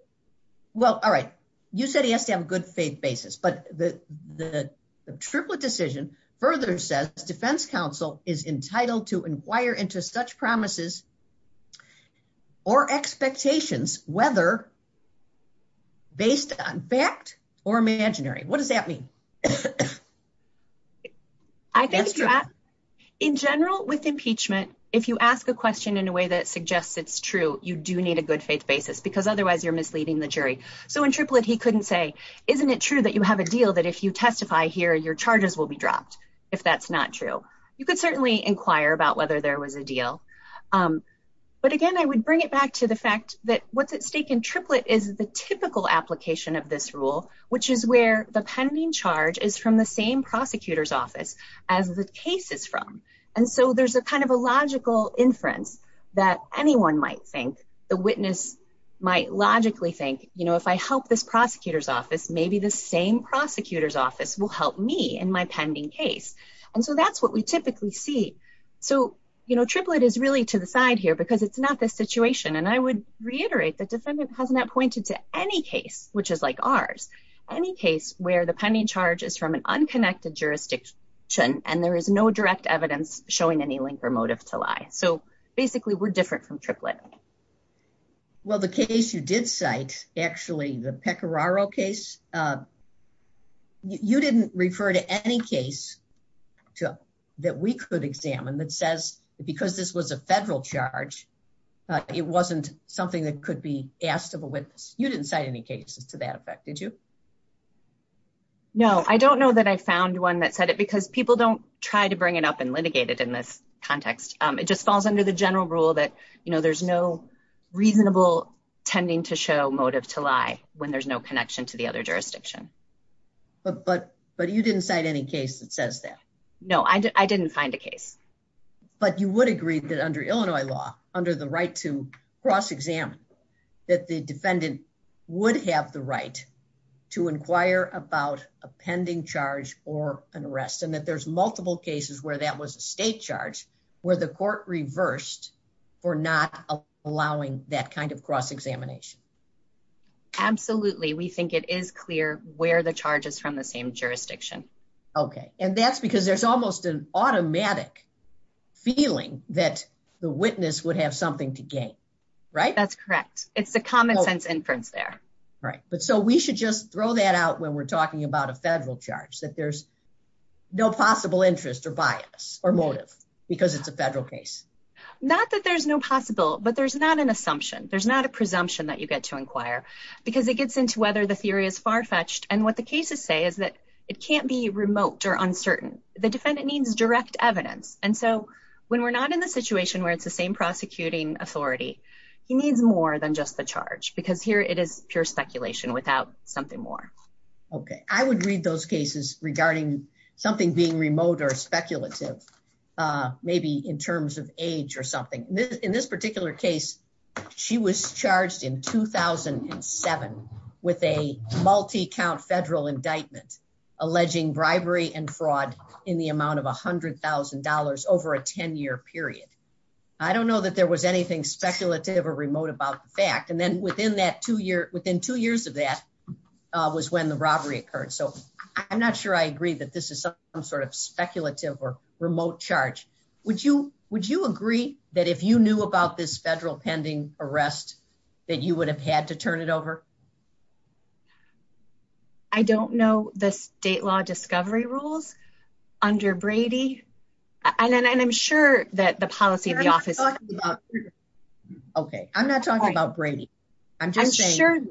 well, all right. You said he has to have a good faith basis, but the triplet decision further says defense counsel is entitled to inquire into such promises or expectations, whether based on fact or imaginary. What does that mean? I think in general with impeachment, if you ask a question in a way that suggests it's true, you do need a good faith basis because otherwise you're misleading the jury. So in triplet, he couldn't say, isn't it true that you have a deal that if you testify here, your charges will be dropped? If that's not true, you don't have to inquire about whether there was a deal. But again, I would bring it back to the fact that what's at stake in triplet is the typical application of this rule, which is where the pending charge is from the same prosecutor's office as the case is from. And so there's a kind of a logical inference that anyone might think the witness might logically think, you know, if I help this prosecutor's office, maybe the same prosecutor's office will help me in my pending case. And so that's what we typically see. And so, you know, triplet is really to the side here because it's not this situation. And I would reiterate that defendant has not pointed to any case, which is like ours, any case where the pending charge is from an unconnected jurisdiction, and there is no direct evidence showing any link or motive to lie. So basically we're different from triplet. Well, the case you did cite actually the Pecoraro case, you didn't refer to any case that we could examine that says, because this was a federal charge, it wasn't something that could be asked of a witness. You didn't cite any cases to that effect, did you? No, I don't know that I found one that said it because people don't try to bring it up and litigate it in this context. It just falls under the general rule that, you know, there's no reasonable tending to show motive to lie when there's no connection to the other jurisdiction. But you didn't cite any case that says that. No, I didn't find a case. But you would agree that under Illinois law, under the right to cross-examine, that the defendant would have the right to inquire about a pending charge or an arrest, and that there's multiple cases where that was a state charge where the court reversed for not allowing that kind of cross-examination. Absolutely. We think it is clear where the charge is from the same jurisdiction. Okay. And that's because there's almost an automatic feeling that the witness would have something to gain, right? That's correct. It's the common sense inference there. Right. But so we should just throw that out when we're talking about a federal charge, that there's no possible interest or bias or motive because it's a federal case. Not that there's no possible, but there's not an assumption. There's not a presumption that you get to inquire because it gets into whether the theory is far-fetched. And what the cases say is that it can't be remote or uncertain. The defendant needs direct evidence. And so when we're not in the situation where it's the same prosecuting authority, he needs more than just the charge because here it is pure speculation without something more. Okay. I would read those cases regarding something being remote or speculative, maybe in terms of age or something. In this particular case, she was charged in 2007 with a multi-count federal indictment, alleging bribery and fraud in the amount of $100,000 over a 10-year period. I don't know that there was anything speculative or remote about the fact. And then within two years of that was when the robbery occurred. So I'm not sure I agree that this is some sort of speculative or remote charge. Would you agree that if you knew about this federal pending arrest that you would have had to turn it over? I don't know the state law discovery rules under Brady. And I'm sure that the policy of the office... Okay. I'm not talking about Brady. I'm just saying...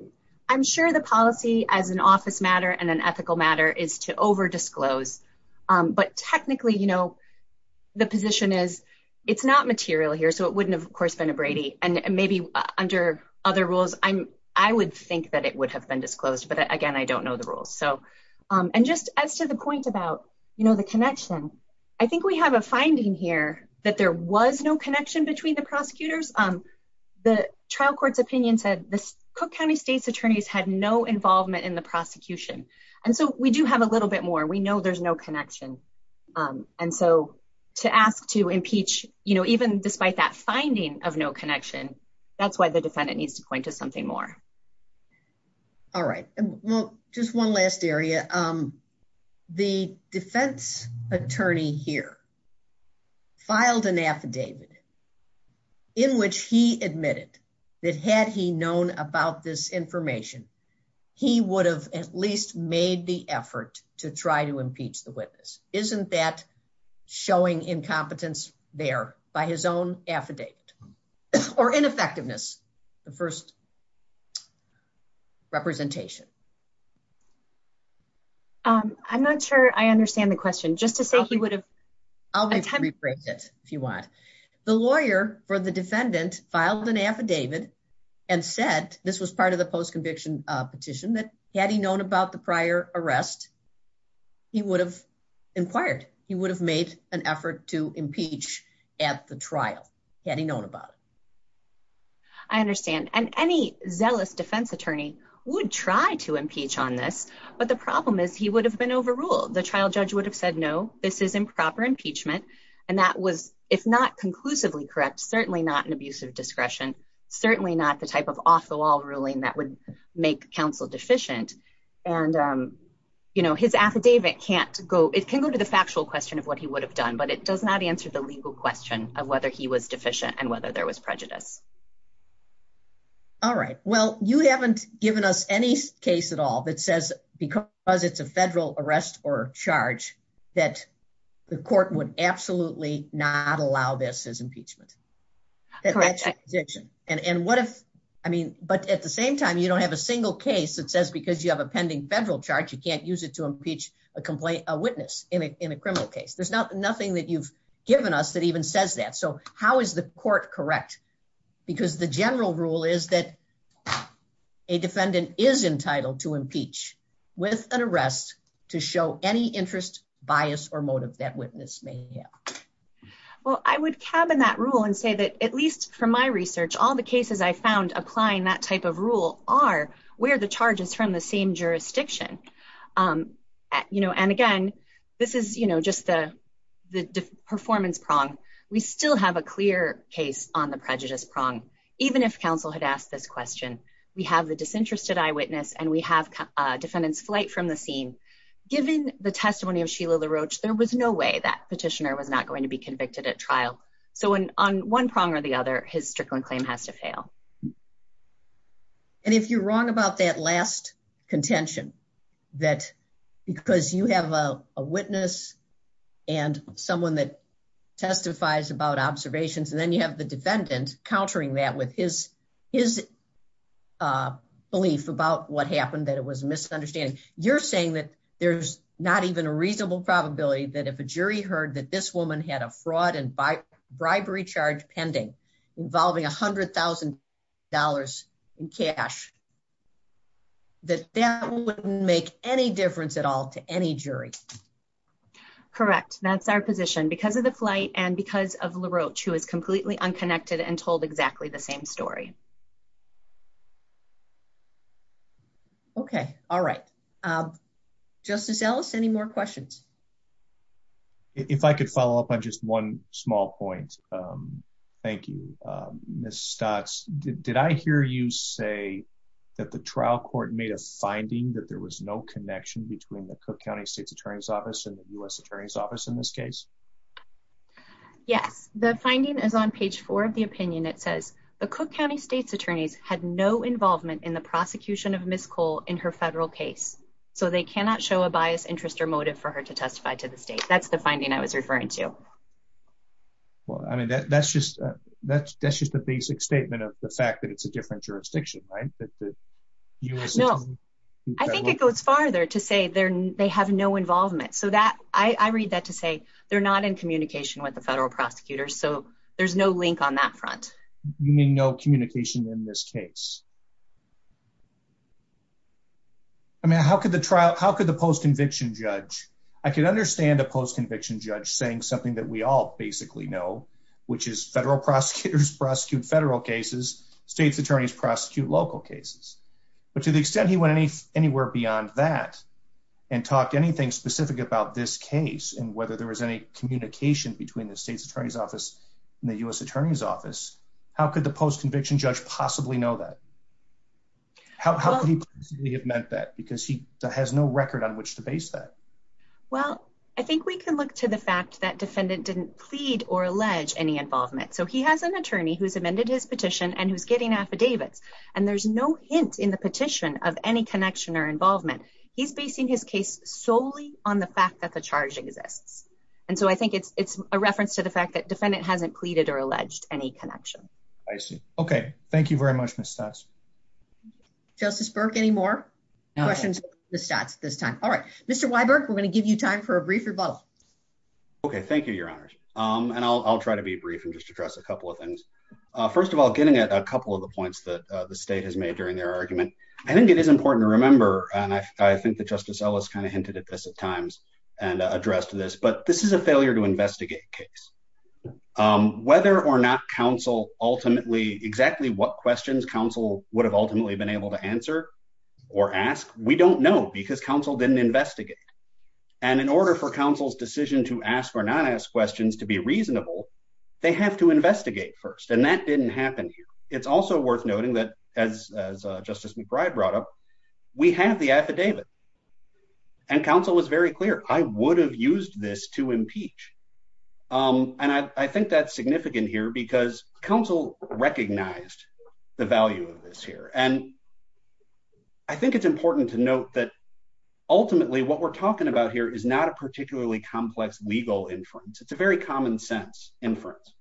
I'm sure the policy as an office matter and an ethical matter is to over disclose. But technically, you know, the position is it's not material here. So it wouldn't have, of course, been a Brady. And maybe under other rules, I would think that it would have been disclosed. But again, I don't know the rules. And just as to the point about, you know, the connection, I think we have a finding here that there was no connection between the prosecutors. The trial court's opinion said the Cook County State's attorneys had no involvement in the prosecution. And so we do have a little bit more. We know there's no connection. And so to ask to impeach, you know, even despite that finding of no connection, that's why the defendant needs to point to something more. All right. Well, just one last area. The defense attorney here filed an affidavit in which he admitted that had he known about this information, he would have at least made the effort to try to impeach the witness. Isn't that showing incompetence there by his own affidavit? Ineffectiveness. The first representation. I'm not sure I understand the question. Just to say he would have... I'll rephrase it if you want. The lawyer for the defendant filed an affidavit and said this was part of the post-conviction petition that had he known about the prior arrest, he would have inquired. He would have made an effort to impeach at the trial had he known about it. I understand. And any zealous defense attorney would try to impeach on this. But the problem is he would have been overruled. The trial judge would have said, no, this is improper impeachment. And that was, if not conclusively correct, certainly not an abuse of discretion, certainly not the type of off-the-wall ruling that would make counsel deficient. And, you know, his affidavit can't go... It can go to the factual question of what he would have done, but it does not answer the legal question of whether he was deficient and whether there was prejudice. All right. Well, you haven't given us any case at all that says because it's a federal arrest or charge that the court would absolutely not allow this as impeachment. Correct. And what if... I mean, but at the same time, you don't have a single case that says because you have a pending federal charge, you can't use it to impeach a witness or anything that you've given us that even says that. So how is the court correct? Because the general rule is that a defendant is entitled to impeach with an arrest to show any interest, bias, or motive that witness may have. Well, I would cabin that rule and say that at least from my research, all the cases I found applying that type of rule are where the charge is from the same jurisdiction. You know, and again, this is just the performance prong. We still have a clear case on the prejudice prong. Even if counsel had asked this question, we have the disinterested eyewitness and we have defendant's flight from the scene. Given the testimony of Sheila LaRoche, there was no way that petitioner was not going to be convicted at trial. So on one prong or the other, his Strickland claim has to fail. And if you're wrong about that last contention, that because you have a witness and someone that testifies about observations, and then you have the defendant countering that with his belief about what happened, that it was a misunderstanding. You're saying that there's not even a reasonable probability that if a jury heard that this woman had a fraud and bribery charge pending involving $100,000 in cash, that that wouldn't make any difference at all to any jury. Correct. That's our position. Because of the flight and because of LaRoche, who is completely unconnected and told exactly the same story. Okay. All right. Justice Ellis, any more questions? If I could follow up on just one small point. Thank you, Ms. Stocks. Did I hear you say that the trial court made a finding that there was no connection between the Cook County State's Attorney's Office and the U.S. Attorney's Office in this case? Yes. The finding is on page four of the opinion. It says the Cook County State's Attorneys had no involvement in the prosecution of Ms. Cole in her federal case. So they cannot show a biased interest or motive for her to testify to the state. That's the finding I was referring to. Well, I mean, that's just the basic statement of the fact that it's a different jurisdiction, right? No. I think it goes farther to say they have no involvement. I read that to say they're not in communication with the federal prosecutors, so there's no link on that front. You mean no communication in this case? I mean, how could the post-conviction judge, I can understand a post-conviction judge saying something that we all basically know, which is federal prosecutors prosecute federal cases, state's attorneys prosecute local cases. But to the extent he went anywhere beyond that and talked anything specific about this case and whether there was any communication between the State's Attorney's Office and the U.S. Attorney's Office, how could the post-conviction judge possibly know that? How could he possibly have meant that? Because he has no record on which to base that. Well, I think we can look to the fact that defendant didn't plead or allege any involvement. So he has an attorney who's amended his petition and he's getting affidavits. And there's no hint in the petition of any connection or involvement. He's basing his case solely on the fact that the charge exists. And so I think it's a reference to the fact that defendant hasn't pleaded or alleged any connection. I see. Okay. Thank you very much, Ms. Stutz. Justice Burke, any more questions for Ms. Stutz at this time? All right. Mr. Weiberg, we're going to give you time for a brief rebuttal. Okay. Thank you, Your Honors. And I'll try to be brief and just address a couple of things. First of all, getting at a couple of the points that the state has made during their argument, I think it is important to remember, and I think that Justice Ellis kind of hinted at this at times and addressed this, but this is a failure to investigate case. Whether or not counsel ultimately, exactly what questions counsel would have ultimately been able to answer or ask, we don't know because counsel didn't investigate. And in order for counsel's decision to ask or not ask questions to be reasonable, they have to investigate first. And that didn't happen here. It's also worth noting that as Justice McBride brought up, we have the affidavit. And counsel was very clear, I would have used this to impeach. And I think that's significant here because counsel recognized the value of this here. And I think it's important to note that ultimately what we're talking about here is not a particularly complex legal inference. It's a very common sense inference.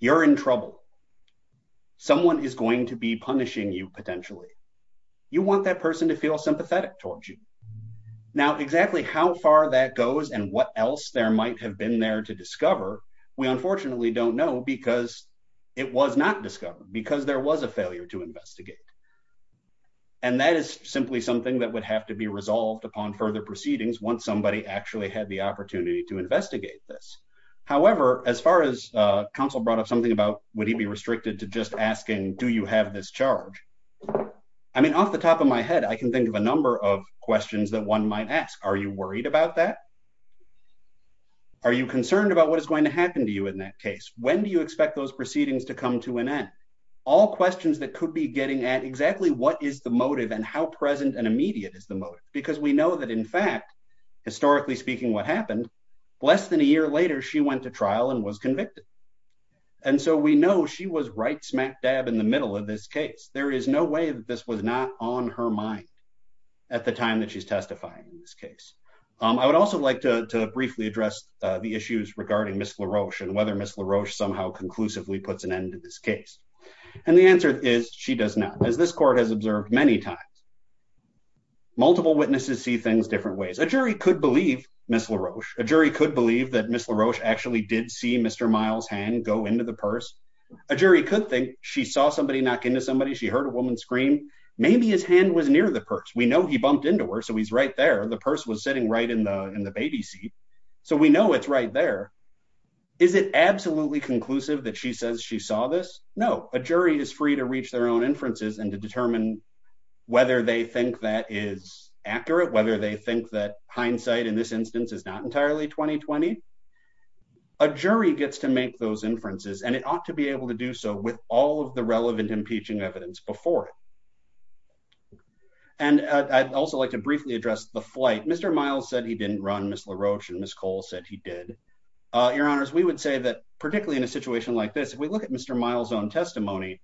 You're in trouble. Someone is going to be punishing you potentially. You want that person to feel sympathetic towards you. Now, exactly how far that goes and what else there might have been there to discover, we unfortunately don't know because it was not discovered because there was a failure to investigate. And that is simply something that would have to be resolved upon further proceedings once somebody actually had the opportunity to investigate this. However, as far as counsel brought up something about, would he be restricted to just asking, do you have this charge? I mean, off the top of my head, I can think of a number of questions that one might ask. Are you worried about that? Are you concerned about what is going to happen to you in that case? When do you expect those proceedings to come to an end? All questions that could be getting at exactly what is the motive and how present and immediate is the motive because we know that in fact, historically speaking, what happened, less than a year later, she went to trial and was convicted. And so we know she was right smack dab in the middle of this case. There is no way that this was not on her mind at the time that she's testifying in this case. I would also like to briefly address the issues regarding Ms. LaRoche and whether Ms. LaRoche somehow conclusively puts an end to this case. And the answer is she does not. As this court has observed many times, multiple witnesses see things different ways. A jury could believe Ms. LaRoche. A jury could believe that Ms. LaRoche actually did see Mr. Miles' hand go into the purse. A jury could think she saw somebody knock into somebody, she heard a woman scream. Maybe his hand was near the purse. We know he bumped into her, so he's right there. The purse was sitting right in the baby seat. So we know it's right there. Is it absolutely conclusive that she says she saw this? No, a jury is free to reach their own inferences and to determine whether they think that is accurate, whether they think that what's being said in this instance is not entirely 20-20. A jury gets to make those inferences and it ought to be able to do so with all of the relevant impeaching evidence before it. And I'd also like to briefly address the flight. Mr. Miles said he didn't run Ms. LaRoche and Ms. Cole said he did. Your Honors, we would say that, particularly in a situation like this, if we look at Mr. Miles' own testimony,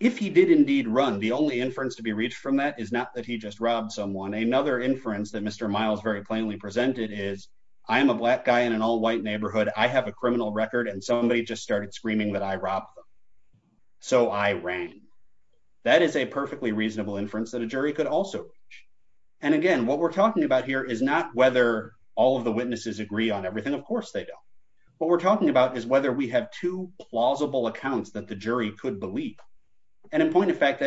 if he did indeed run, the only inference to be reached from that is not that he just robbed someone. Another inference that Mr. Miles very plainly presented is, I am a black guy in an all-white neighborhood. I have a criminal record and somebody just started screaming that I robbed them. So I ran. That is a perfectly reasonable inference that a jury could also reach. And again, what we're talking about here is not whether all of the witnesses agree on everything. Of course they don't. What we're talking about is whether we have two plausible accounts that the jury could believe. And in point of fact,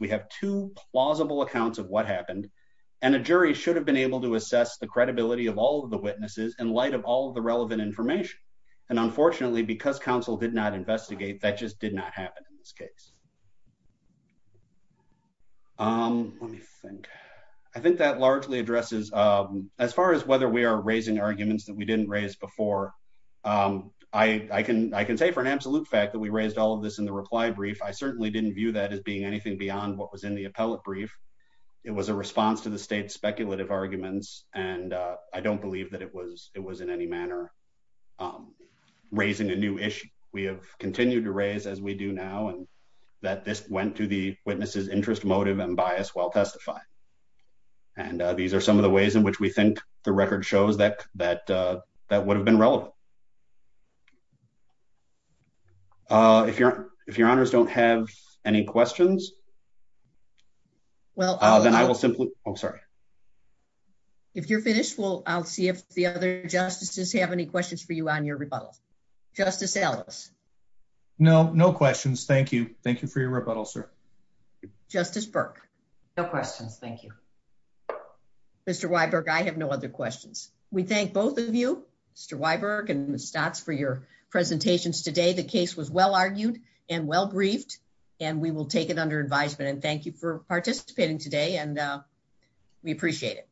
we have two plausible accounts of what happened. And a jury should have been able to assess the credibility of all of the witnesses in light of all of the relevant information. And unfortunately, because counsel did not investigate, that just did not happen in this case. Let me think. I think that largely addresses, as far as whether we are raising arguments that we didn't raise before, I can say for an absolute fact that we raised all of this in the reply brief. I certainly didn't view that as being anything beyond what was in the appellate brief. It was a response to the state's speculative arguments. And I don't believe that it was in any manner raising a new issue. We have continued to raise, as we do now, that this went to the witness's interest, motive, and bias while testifying. And these are some of the ways in which we think the record shows that that would have been relevant. If your honors don't have any questions, then I will simply... I'm sorry. If you're finished, I'll see if the other justices have any questions for you on your rebuttal. Justice Ellis. No, no questions. Thank you. Thank you for your rebuttal, sir. Justice Burke. No questions. Thank you. Mr. Weiberg, I have no other questions. We thank both of you, Mr. Weiberg and Ms. Stotz, for your presentations today. The case was well-argued and well-briefed, and we will take it under advisement. And thank you for participating today, and we appreciate it.